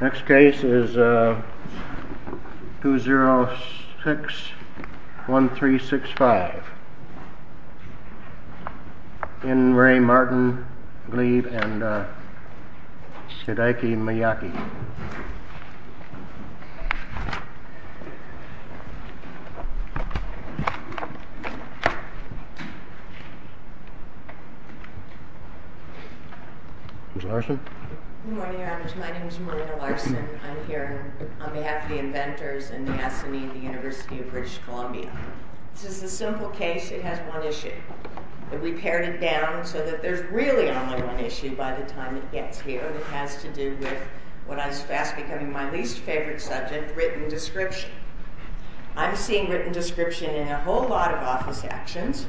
Next case is 2061365. In Ray Martin Gleave and Shidaiki Miyake. Ms. Larson. Good morning, Your Honors. My name is Marina Larson. I'm here on behalf of the Inventors and the Assembly of the University of British Columbia. This is a simple case. It has one issue. We've pared it down so that there's really only one issue by the time it gets here. It has to do with what is fast becoming my least favorite subject, written description. I'm seeing written description in a whole lot of office actions.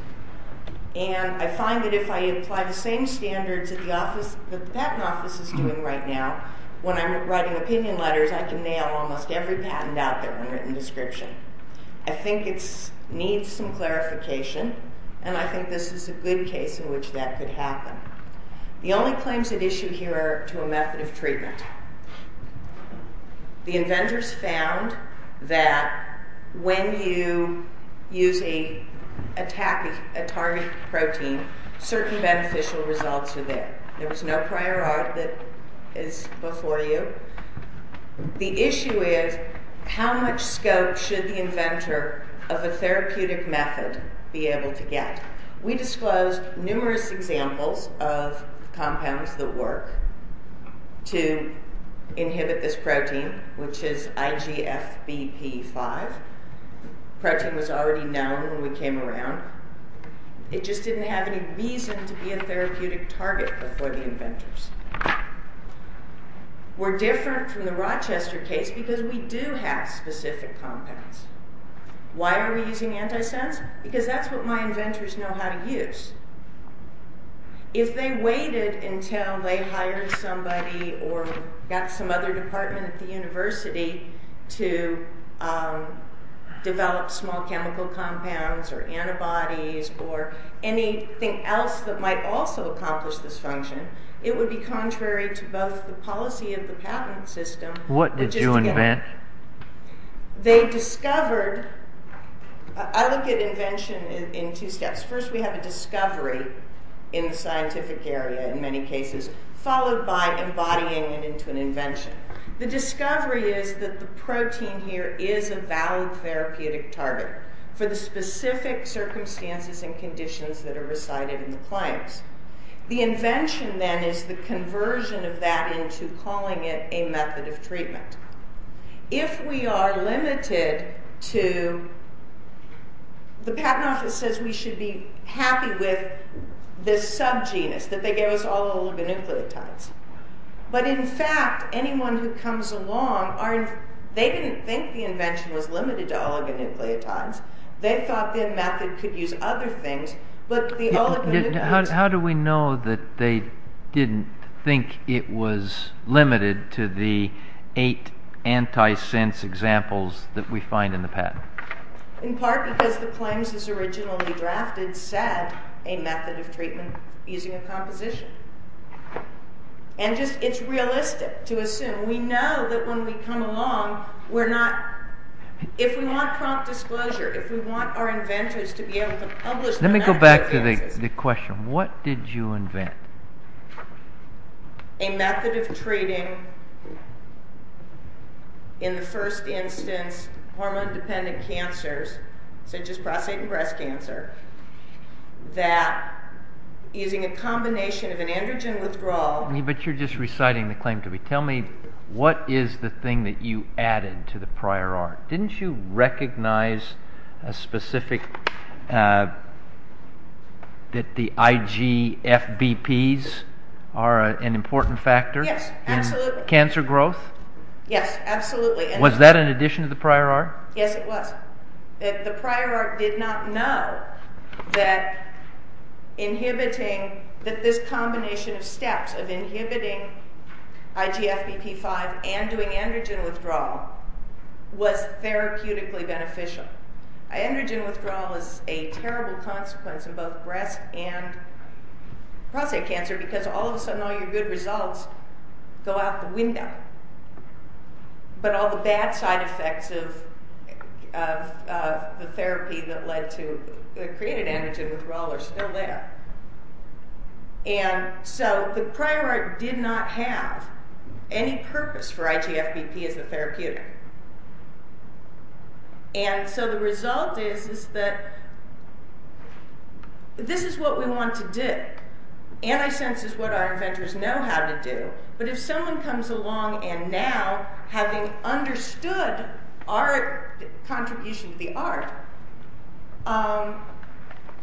And I find that if I apply the same standards that the patent office is doing right now, when I'm writing opinion letters, I can nail almost every patent out there on written description. I think it needs some clarification, and I think this is a good case in which that could happen. The only claims at issue here are to a method of treatment. The inventors found that when you use a target protein, certain beneficial results are there. There was no prior art that is before you. The issue is how much scope should the inventor of a therapeutic method be able to get. We disclosed numerous examples of compounds that work to inhibit this protein, which is IGFBP5. The protein was already known when we came around. It just didn't have any reason to be a therapeutic target before the inventors. We're different from the Rochester case because we do have specific compounds. Why are we using antisense? Because that's what my inventors know how to use. If they waited until they hired somebody or got some other department at the university to develop small chemical compounds or antibodies or anything else that might also accomplish this function, it would be contrary to both the policy of the patent system... What did you invent? They discovered... I look at invention in two steps. First, we have a discovery in the scientific area in many cases, followed by embodying it into an invention. The discovery is that the protein here is a valid therapeutic target for the specific circumstances and conditions that are recited in the claims. The invention, then, is the conversion of that into calling it a method of treatment. If we are limited to... The patent office says we should be happy with this subgenus, that they gave us all oligonucleotides. But in fact, anyone who comes along, they didn't think the invention was limited to oligonucleotides. They thought the method could use other things, but the oligonucleotides... How do we know that they didn't think it was limited to the eight antisense examples that we find in the patent? In part because the claims as originally drafted said a method of treatment using a composition. And just, it's realistic to assume. We know that when we come along, we're not... If we want prompt disclosure, if we want our inventors to be able to publish... Let me go back to the question. What did you invent? A method of treating, in the first instance, hormone-dependent cancers, such as prostate and breast cancer, that using a combination of an androgen withdrawal... But you're just reciting the claim to me. Tell me, what is the thing that you added to the prior art? Didn't you recognize a specific... That the IGFBPs are an important factor? Yes, absolutely. In cancer growth? Yes, absolutely. Was that in addition to the prior art? Yes, it was. The prior art did not know that inhibiting... was therapeutically beneficial. Androgen withdrawal is a terrible consequence in both breast and prostate cancer because all of a sudden all your good results go out the window. But all the bad side effects of the therapy that led to... that created androgen withdrawal are still there. And so the prior art did not have any purpose for IGFBP as a therapeutic. And so the result is that this is what we want to do. And I sense it's what our inventors know how to do. But if someone comes along and now, having understood our contribution to the art,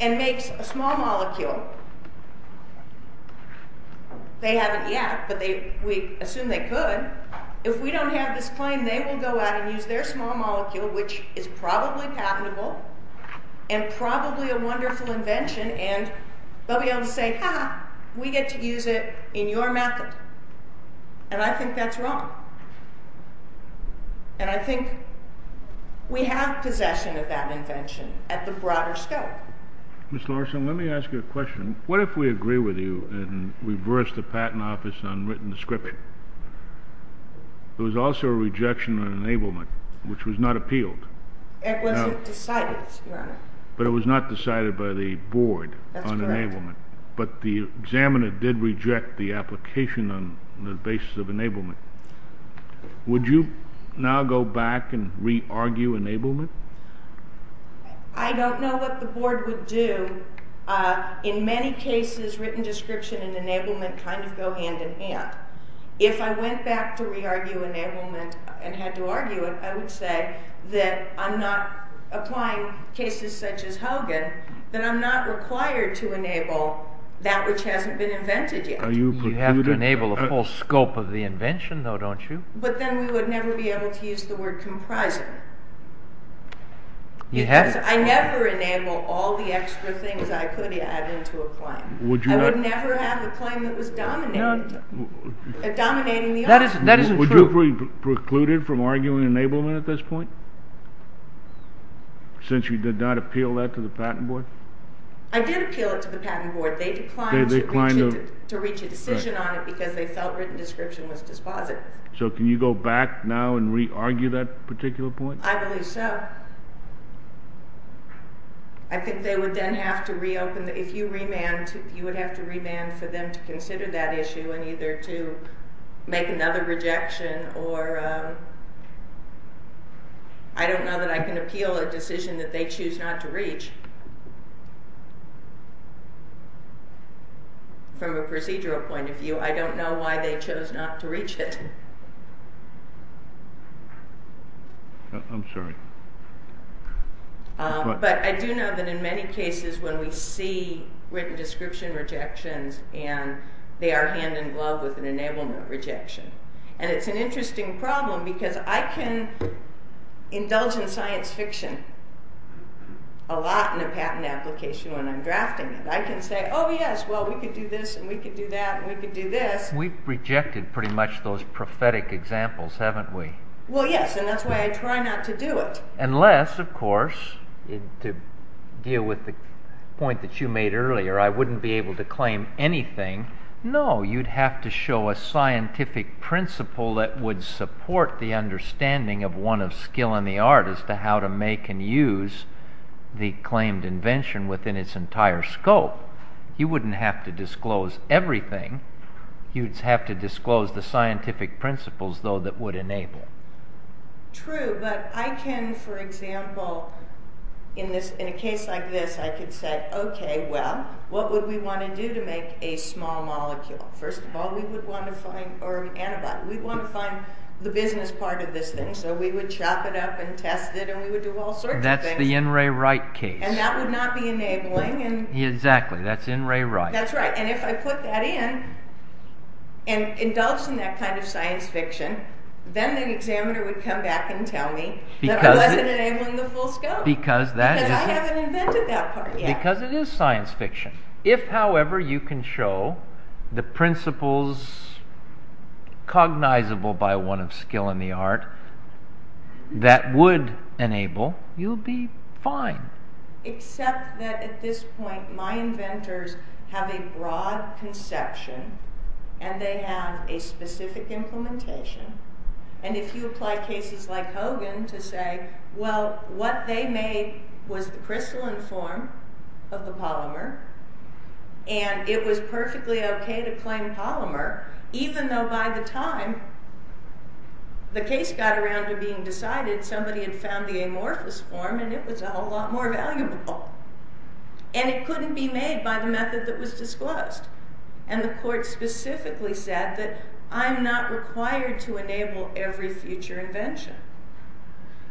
and makes a small molecule, they haven't yet, but we assume they could, if we don't have this claim they will go out and use their small molecule, which is probably patentable, and probably a wonderful invention, and they'll be able to say, ha ha, we get to use it in your method. And I think that's wrong. And I think we have possession of that invention at the broader scope. Ms. Larson, let me ask you a question. What if we agree with you and reverse the patent office on written description? There was also a rejection on enablement, which was not appealed. It wasn't decided, Your Honor. That's correct. But the examiner did reject the application on the basis of enablement. Would you now go back and re-argue enablement? I don't know what the Board would do. In many cases, written description and enablement kind of go hand in hand. If I went back to re-argue enablement and had to argue it, I would say that I'm not applying cases such as Hogan, then I'm not required to enable that which hasn't been invented yet. You have to enable the full scope of the invention, though, don't you? But then we would never be able to use the word comprising. I never enable all the extra things I could add into a claim. I would never have a claim that was dominating the argument. That isn't true. Would you be precluded from arguing enablement at this point? Since you did not appeal that to the Patent Board? I did appeal it to the Patent Board. They declined to reach a decision on it because they felt written description was dispositive. So can you go back now and re-argue that particular point? I believe so. I think they would then have to reopen. If you remand, you would have to remand for them to consider that issue and either to make another rejection or... I don't know that I can appeal a decision that they choose not to reach. From a procedural point of view, I don't know why they chose not to reach it. I'm sorry. But I do know that in many cases when we see written description rejections and they are hand-in-glove with an enablement rejection. And it's an interesting problem because I can indulge in science fiction a lot in a patent application when I'm drafting it. I can say, oh yes, well, we could do this and we could do that and we could do this. We've rejected pretty much those prophetic examples, haven't we? Well, yes, and that's why I try not to do it. Unless, of course, to deal with the point that you made earlier, I wouldn't be able to claim anything. No, you'd have to show a scientific principle that would support the understanding of one of skill in the art as to how to make and use the claimed invention within its entire scope. You wouldn't have to disclose everything. You'd have to disclose the scientific principles, though, that would enable. True, but I can, for example, in a case like this, I could say, okay, well, what would we want to do to make a small molecule? First of all, we would want to find, or an antibody, we'd want to find the business part of this thing, so we would chop it up and test it and we would do all sorts of things. That's the N. Ray Wright case. And that would not be enabling. Exactly, that's N. Ray Wright. That's right, and if I put that in and indulge in that kind of science fiction, then the examiner would come back and tell me that I wasn't enabling the full scope. Because that is... Because I haven't invented that part yet. Because it is science fiction. If, however, you can show the principles cognizable by one of skill in the art that would enable, you'll be fine. Except that at this point, my inventors have a broad conception and they have a specific implementation, and if you apply cases like Hogan to say, well, what they made was the crystalline form of the polymer and it was perfectly okay to claim polymer, even though by the time the case got around to being decided, somebody had found the amorphous form and it was a whole lot more valuable. And it couldn't be made by the method that was disclosed. And the court specifically said that I'm not required to enable every future invention.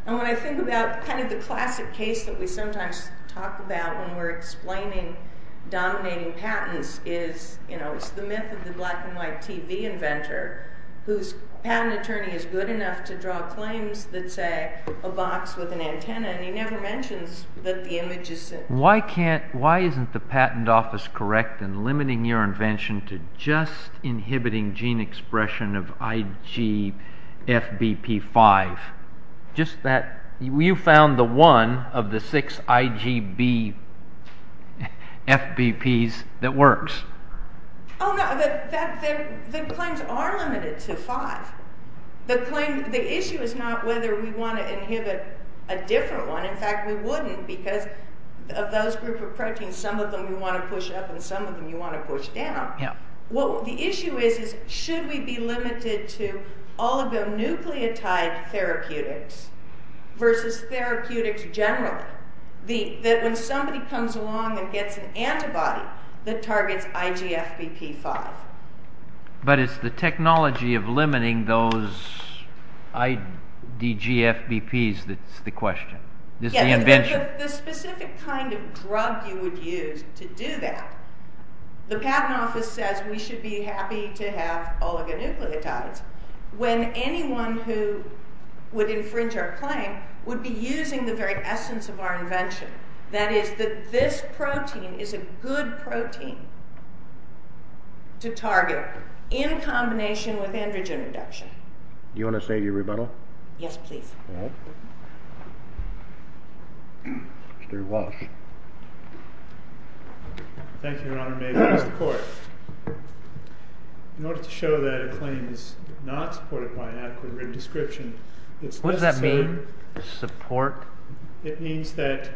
And when I think about kind of the classic case that we sometimes talk about when we're explaining dominating patents is, you know, it's the myth of the black and white TV inventor whose patent attorney is good enough to draw claims that say a box with an antenna and he never mentions that the image is... Why isn't the patent office correct in limiting your invention to just inhibiting gene expression of IgFBP5? Just that you found the one of the six IgBFBPs that works. Oh, no, the claims are limited to five. The claim, the issue is not whether we want to inhibit a different one. In fact, we wouldn't because of those group of proteins, and some of them you want to push up and some of them you want to push down. What the issue is, is should we be limited to oligonucleotide therapeutics versus therapeutics generally? That when somebody comes along and gets an antibody that targets IgFBP5. But it's the technology of limiting those IgGFBPs that's the question. The specific kind of drug you would use to do that, the patent office says we should be happy to have oligonucleotides when anyone who would infringe our claim would be using the very essence of our invention. That is that this protein is a good protein to target in combination with androgen reduction. Do you want to say your rebuttal? Yes, please. Mr. Walsh. Thank you, Your Honor. May it please the Court. In order to show that a claim is not supported by an adequate written description, it's necessary... What does that mean, support? It means that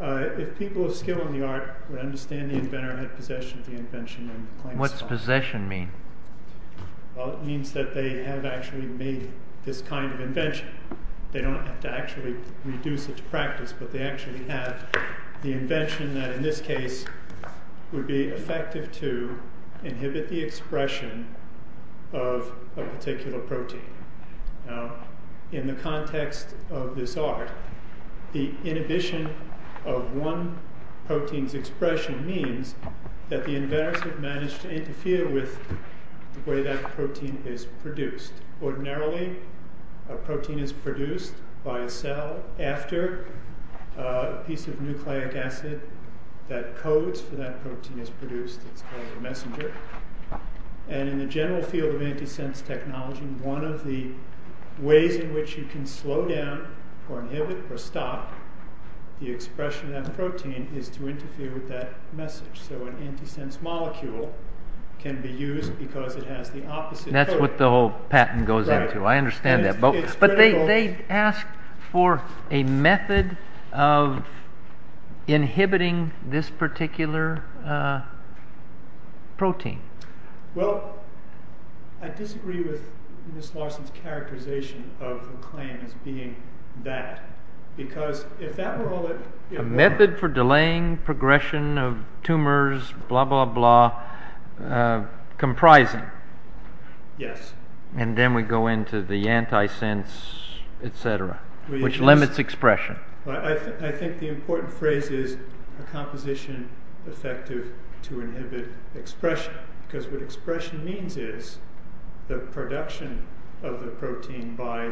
if people of skill in the art would understand the inventor had possession of the invention and claim... What's possession mean? It means that they have actually made this kind of invention. They don't have to actually reduce it to practice, but they actually have the invention that in this case would be effective to inhibit the expression of a particular protein. In the context of this art, the inhibition of one protein's expression means that the inventors have managed to interfere with the way that protein is produced. Ordinarily, a protein is produced by a cell after a piece of nucleic acid that codes for that protein is produced. It's called a messenger. In the general field of antisense technology, one of the ways in which you can slow down or inhibit or stop the expression of that protein is to interfere with that message. So an antisense molecule can be used because it has the opposite code. That's what the whole patent goes into. I understand that. But they ask for a method of inhibiting this particular protein. Well, I disagree with Ms. Larson's characterization of a claim as being that. Because if that were all that... A method for delaying progression of tumors, blah, blah, blah, comprising. Yes. And then we go into the antisense, etc., which limits expression. I think the important phrase is a composition effective to inhibit expression. Because what expression means is the production of the protein by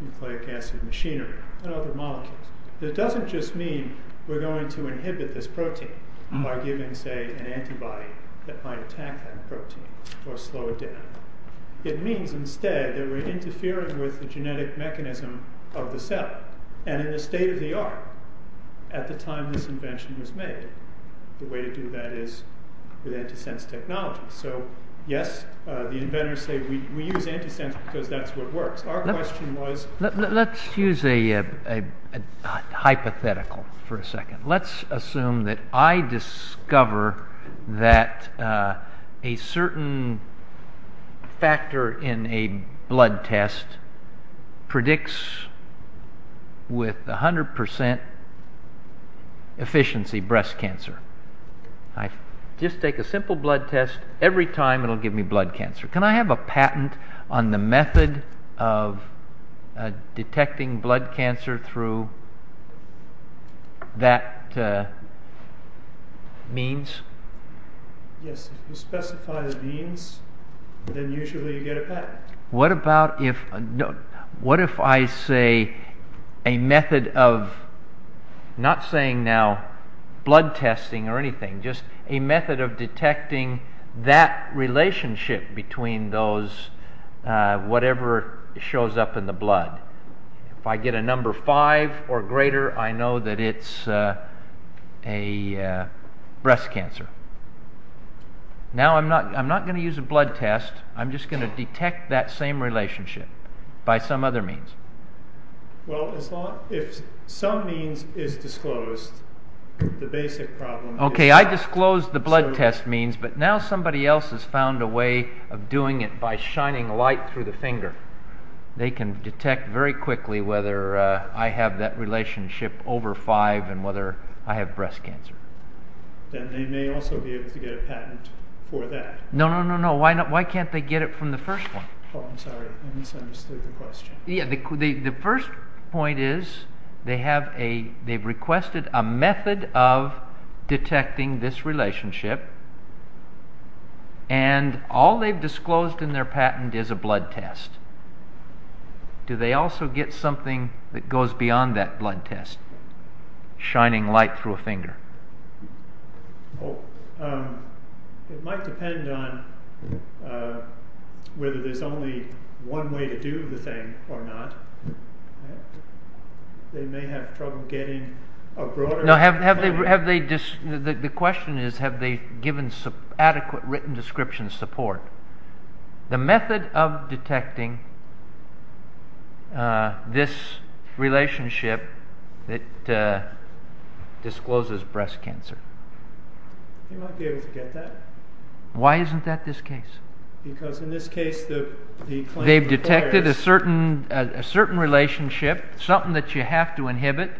nucleic acid machinery and other molecules. It doesn't just mean we're going to inhibit this protein by giving, say, an antibody that might attack that protein or slow it down. It means instead that we're interfering with the genetic mechanism of the cell. And in the state of the art, at the time this invention was made, the way to do that is with antisense technology. So, yes, the inventors say we use antisense because that's what works. Our question was... Let's use a hypothetical for a second. Let's assume that I discover that a certain factor in a blood test predicts with 100% efficiency breast cancer. I just take a simple blood test. Every time it will give me blood cancer. Can I have a patent on the method of detecting blood cancer through that means? Yes. If you specify the means, then usually you get a patent. What about if... What if I say a method of, not saying now blood testing or anything, just a method of detecting that relationship between those, whatever shows up in the blood. If I get a number five or greater, I know that it's a breast cancer. Now I'm not going to use a blood test. I'm just going to detect that same relationship by some other means. Well, if some means is disclosed, the basic problem is... Okay, I disclosed the blood test means, but now somebody else has found a way of doing it by shining light through the finger. They can detect very quickly whether I have that relationship over five and whether I have breast cancer. Then they may also be able to get a patent for that. No, no, no, no. Why can't they get it from the first one? Oh, I'm sorry. I misunderstood the question. Yeah, the first point is they've requested a method of detecting this relationship and all they've disclosed in their patent is a blood test. Do they also get something that goes beyond that blood test, shining light through a finger? Oh, it might depend on whether there's only one way to do the thing or not. They may have trouble getting a broader... No, the question is have they given adequate written description support? The method of detecting this relationship that discloses breast cancer. They might be able to get that. Why isn't that this case? Because in this case the claim requires... They've detected a certain relationship, something that you have to inhibit,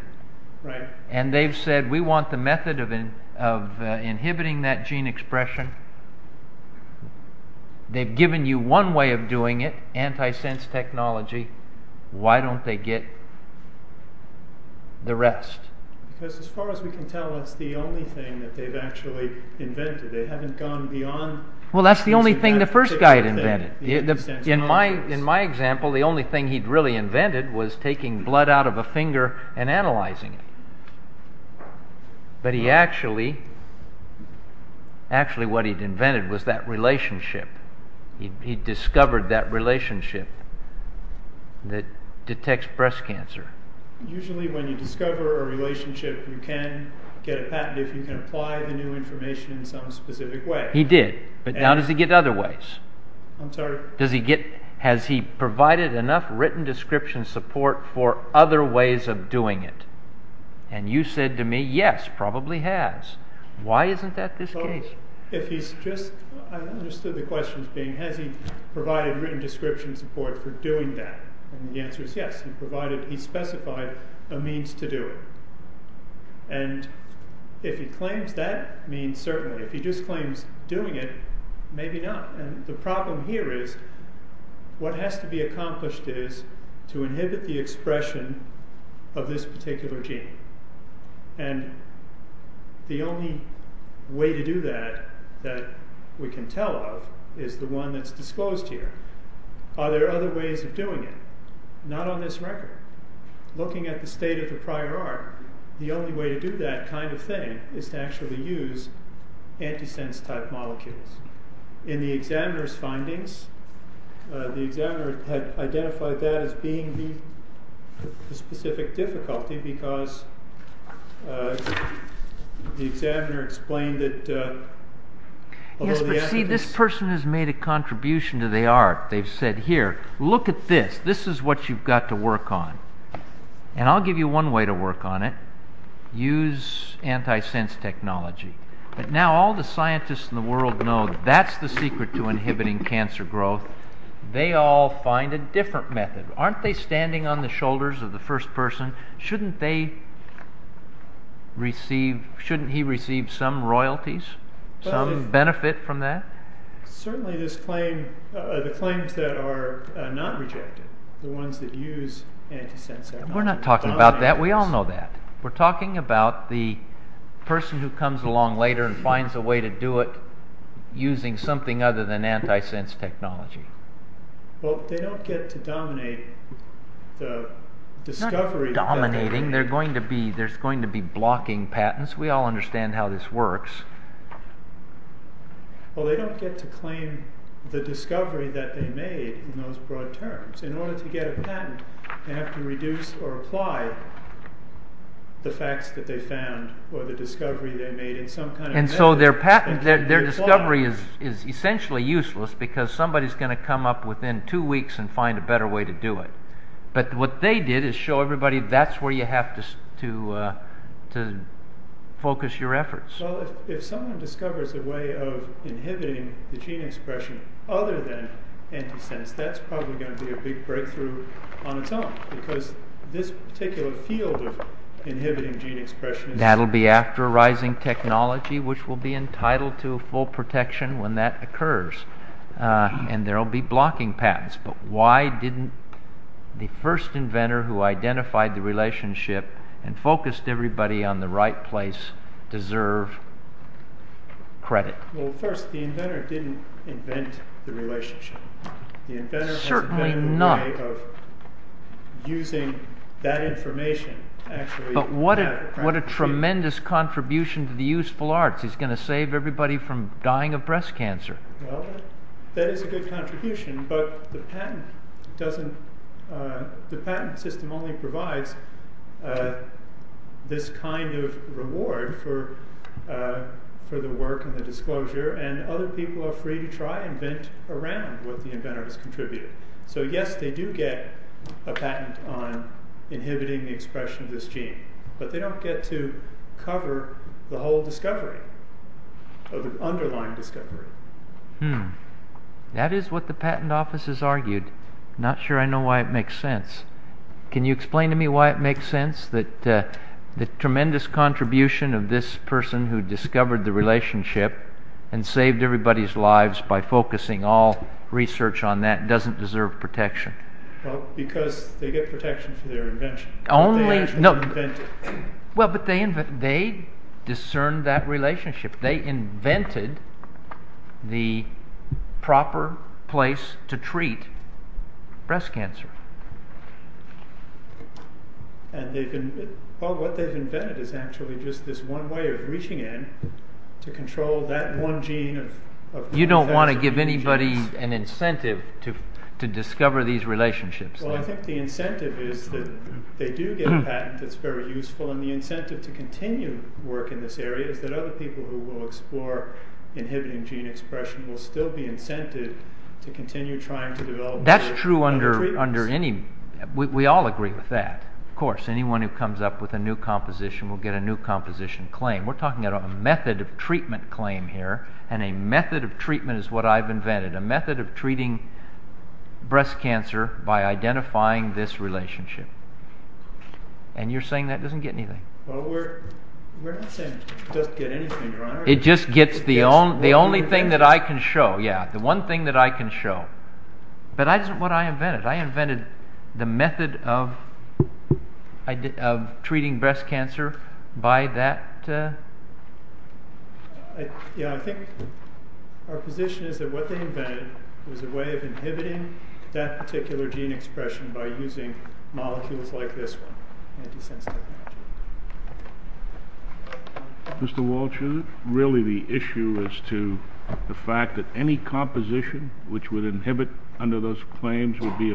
and they've said we want the method of inhibiting that gene expression. They've given you one way of doing it, anti-sense technology. Why don't they get the rest? Because as far as we can tell it's the only thing that they've actually invented. They haven't gone beyond... Well, that's the only thing the first guy had invented. In my example the only thing he'd really invented was taking blood out of a finger and analyzing it. But actually what he'd invented was that relationship. He'd discovered that relationship that detects breast cancer. Usually when you discover a relationship you can get a patent if you can apply the new information in some specific way. He did, but now does he get other ways? I'm sorry? Has he provided enough written description support for other ways of doing it? And you said to me, yes, probably has. Why isn't that this case? I understood the question as being, has he provided written description support for doing that? And the answer is yes. He specified a means to do it. And if he claims that means certainly. If he just claims doing it, maybe not. The problem here is what has to be accomplished is to inhibit the expression of this particular gene. And the only way to do that that we can tell of is the one that's disclosed here. Are there other ways of doing it? Not on this record. Looking at the state of the prior art, the only way to do that kind of thing is to actually use antisense type molecules. In the examiner's findings, the examiner had identified that as being the specific difficulty because the examiner explained that... Yes, but see this person has made a contribution to the art. They've said here, look at this. This is what you've got to work on. And I'll give you one way to work on it. Use antisense technology. But now all the scientists in the world know that's the secret to inhibiting cancer growth. They all find a different method. Aren't they standing on the shoulders of the first person? Shouldn't they receive, shouldn't he receive some royalties, some benefit from that? Certainly this claim, the claims that are not rejected, the ones that use antisense... We're not talking about that. We all know that. We're talking about the person who comes along later and finds a way to do it using something other than antisense technology. Well, they don't get to dominate the discovery... Not dominating. There's going to be blocking patents. We all understand how this works. Well, they don't get to claim the discovery that they made in those broad terms. In order to get a patent, they have to reduce or apply the facts that they found or the discovery they made in some kind of method. And so their discovery is essentially useless because somebody's going to come up within two weeks and find a better way to do it. But what they did is show everybody that's where you have to focus your efforts. Well, if someone discovers a way of inhibiting the gene expression other than antisense, that's probably going to be a big breakthrough on its own because this particular field of inhibiting gene expression... That'll be after a rising technology which will be entitled to full protection when that occurs. And there'll be blocking patents. But why didn't the first inventor who identified the relationship and focused everybody on the right place deserve credit? Well, first, the inventor didn't invent the relationship. Certainly not. The inventor has invented a way of using that information. But what a tremendous contribution to the useful arts. He's going to save everybody from dying of breast cancer. Well, that is a good contribution, but the patent system only provides this kind of reward for the work and the disclosure, and other people are free to try and invent around what the inventor has contributed. So yes, they do get a patent on inhibiting the expression of this gene, but they don't get to cover the whole discovery or the underlying discovery. That is what the patent office has argued. Not sure I know why it makes sense. Can you explain to me why it makes sense that the tremendous contribution of this person who discovered the relationship and saved everybody's lives by focusing all research on that doesn't deserve protection? Well, because they get protection for their invention. Well, but they discerned that relationship. They invented the proper place to treat breast cancer. Well, what they have invented is actually just this one way of reaching in to control that one gene. You don't want to give anybody an incentive to discover these relationships. Well, I think the incentive is that they do get a patent that's very useful, and the incentive to continue work in this area is that other people who will explore inhibiting gene expression will still be incented to continue trying to develop other treatments. That's true under any... We all agree with that, of course. Anyone who comes up with a new composition will get a new composition claim. We're talking about a method of treatment claim here, and a method of treatment is what I've invented. A method of treating breast cancer by identifying this relationship. And you're saying that doesn't get anything. Well, we're not saying it doesn't get anything. It just gets the only thing that I can show. Yeah, the one thing that I can show. But that's not what I invented. I invented the method of treating breast cancer by that... Yeah, I think our position is that what they invented was a way of inhibiting that particular gene expression by using molecules like this one, anti-sense technology. Mr. Walsh, is it really the issue as to the fact that any composition which would inhibit under those claims would be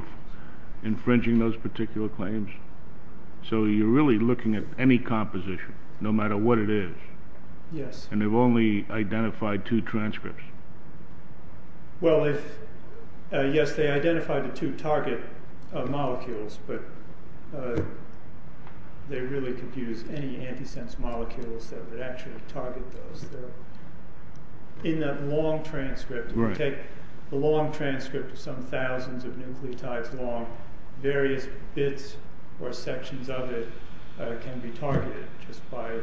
infringing those particular claims? So you're really looking at any composition, no matter what it is. Yes. And they've only identified two transcripts. Well, yes, they identified the two target molecules, but they really could use any anti-sense molecules that would actually target those. In that long transcript, if you take the long transcript of some thousands of nucleotides long, various bits or sections of it can be targeted just by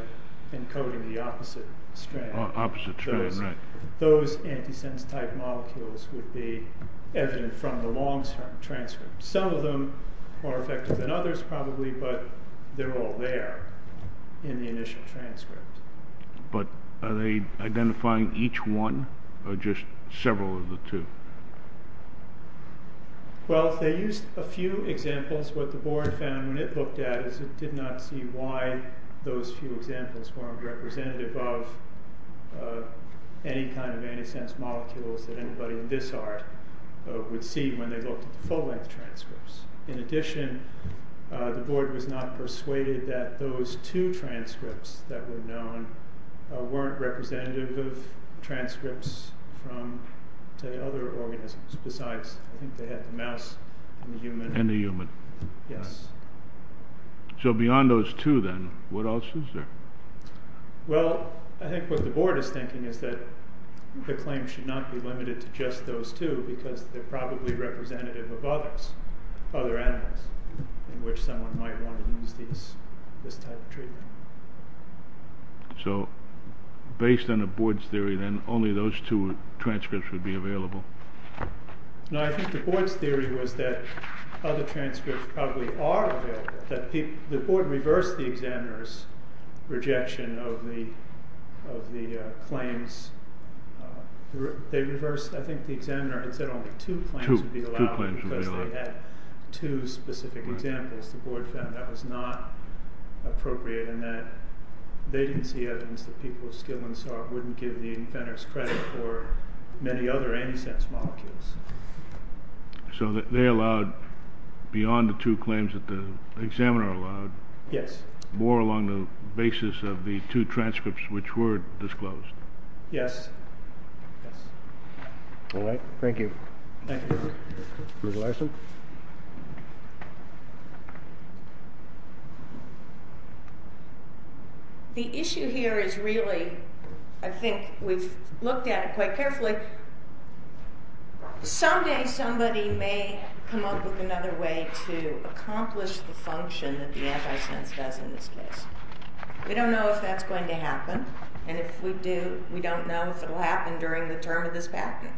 encoding the opposite strand. Opposite strand, right. Those anti-sense-type molecules would be evident from the long-term transcript. Some of them are effective than others probably, but they're all there in the initial transcript. But are they identifying each one or just several of the two? Well, they used a few examples. What the board found when it looked at it is it did not see why those few examples weren't representative of any kind of anti-sense molecules that anybody in this art would see when they looked at the full-length transcripts. In addition, the board was not persuaded that those two transcripts that were known weren't representative of transcripts from the other organisms. Besides, I think they had the mouse and the human. And the human. Yes. So beyond those two, then, what else is there? Well, I think what the board is thinking is that the claim should not be limited to just those two because they're probably representative of others, other animals in which someone might want to use this type of treatment. So based on the board's theory, then only those two transcripts would be available? No, I think the board's theory was that other transcripts probably are available. The board reversed the examiner's rejection of the claims. I think the examiner had said only two claims would be allowed because they had two specific examples. The board found that was not appropriate and that they didn't see evidence that people of skill and sort wouldn't give the offenders credit for many other anti-sense molecules. So they allowed, beyond the two claims that the examiner allowed, more along the basis of the two transcripts which were disclosed? Yes. All right. Thank you. Ms. Larson? The issue here is really, I think we've looked at it quite carefully, someday somebody may come up with another way to accomplish the function that the anti-sense does in this case. We don't know if that's going to happen and if we do, we don't know if it will happen during the term of this patent.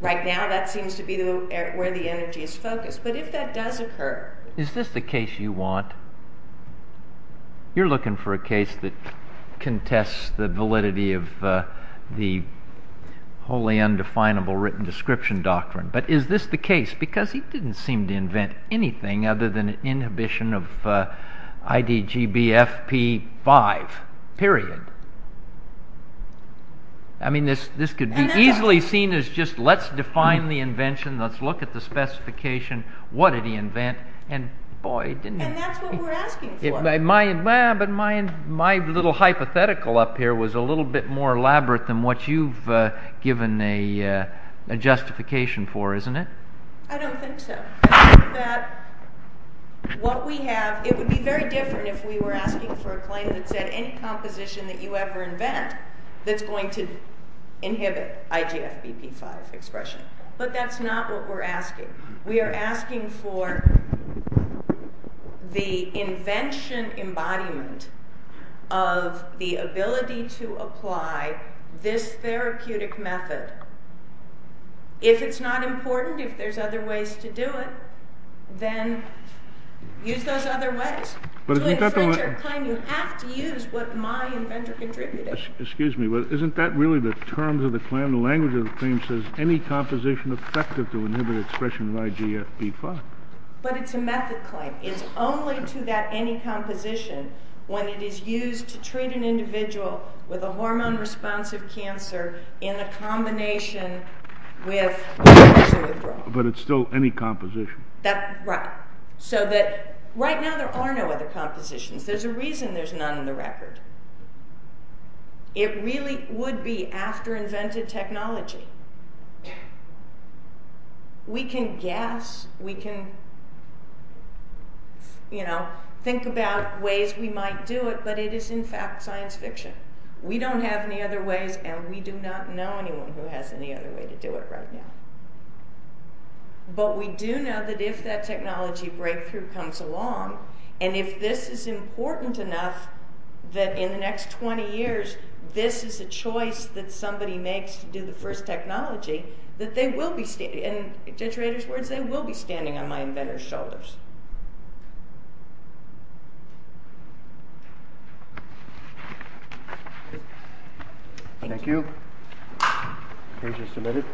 Right now, that seems to be where the energy is focused, but if that does occur... Is this the case you want? You're looking for a case that contests the validity of the wholly undefinable written description doctrine, but is this the case? Because he didn't seem to invent anything other than an inhibition of IDGBFP5, period. I mean, this could be easily seen as just, let's define the invention, let's look at the specification, what did he invent, and boy, didn't he... And that's what we're asking for. But my little hypothetical up here was a little bit more elaborate than what you've given a justification for, isn't it? I don't think so. I think that what we have... It would be very different if we were asking for a claim that said any composition that you ever invent that's going to inhibit IGFBP5 expression. But that's not what we're asking. We are asking for the invention embodiment of the ability to apply this therapeutic method. If it's not important, if there's other ways to do it, then use those other ways. To invent your claim, you have to use what my inventor contributed. Excuse me, but isn't that really the terms of the claim? The language of the claim says, any composition effective to inhibit expression of IGFB5. But it's a method claim. when it is used to treat an individual with a hormone-responsive cancer in a combination with cancer withdrawal. But it's still any composition. Right. So that right now there are no other compositions. There's a reason there's none in the record. It really would be after invented technology. We can guess, we can think about ways we might do it, but it is, in fact, science fiction. We don't have any other ways, and we do not know anyone who has any other way to do it right now. But we do know that if that technology breakthrough comes along, and if this is important enough, that in the next 20 years, this is a choice that somebody makes to do the first technology, that they will be standing, in Deterrator's words, they will be standing on my inventor's shoulders. Thank you. Okay, just a minute.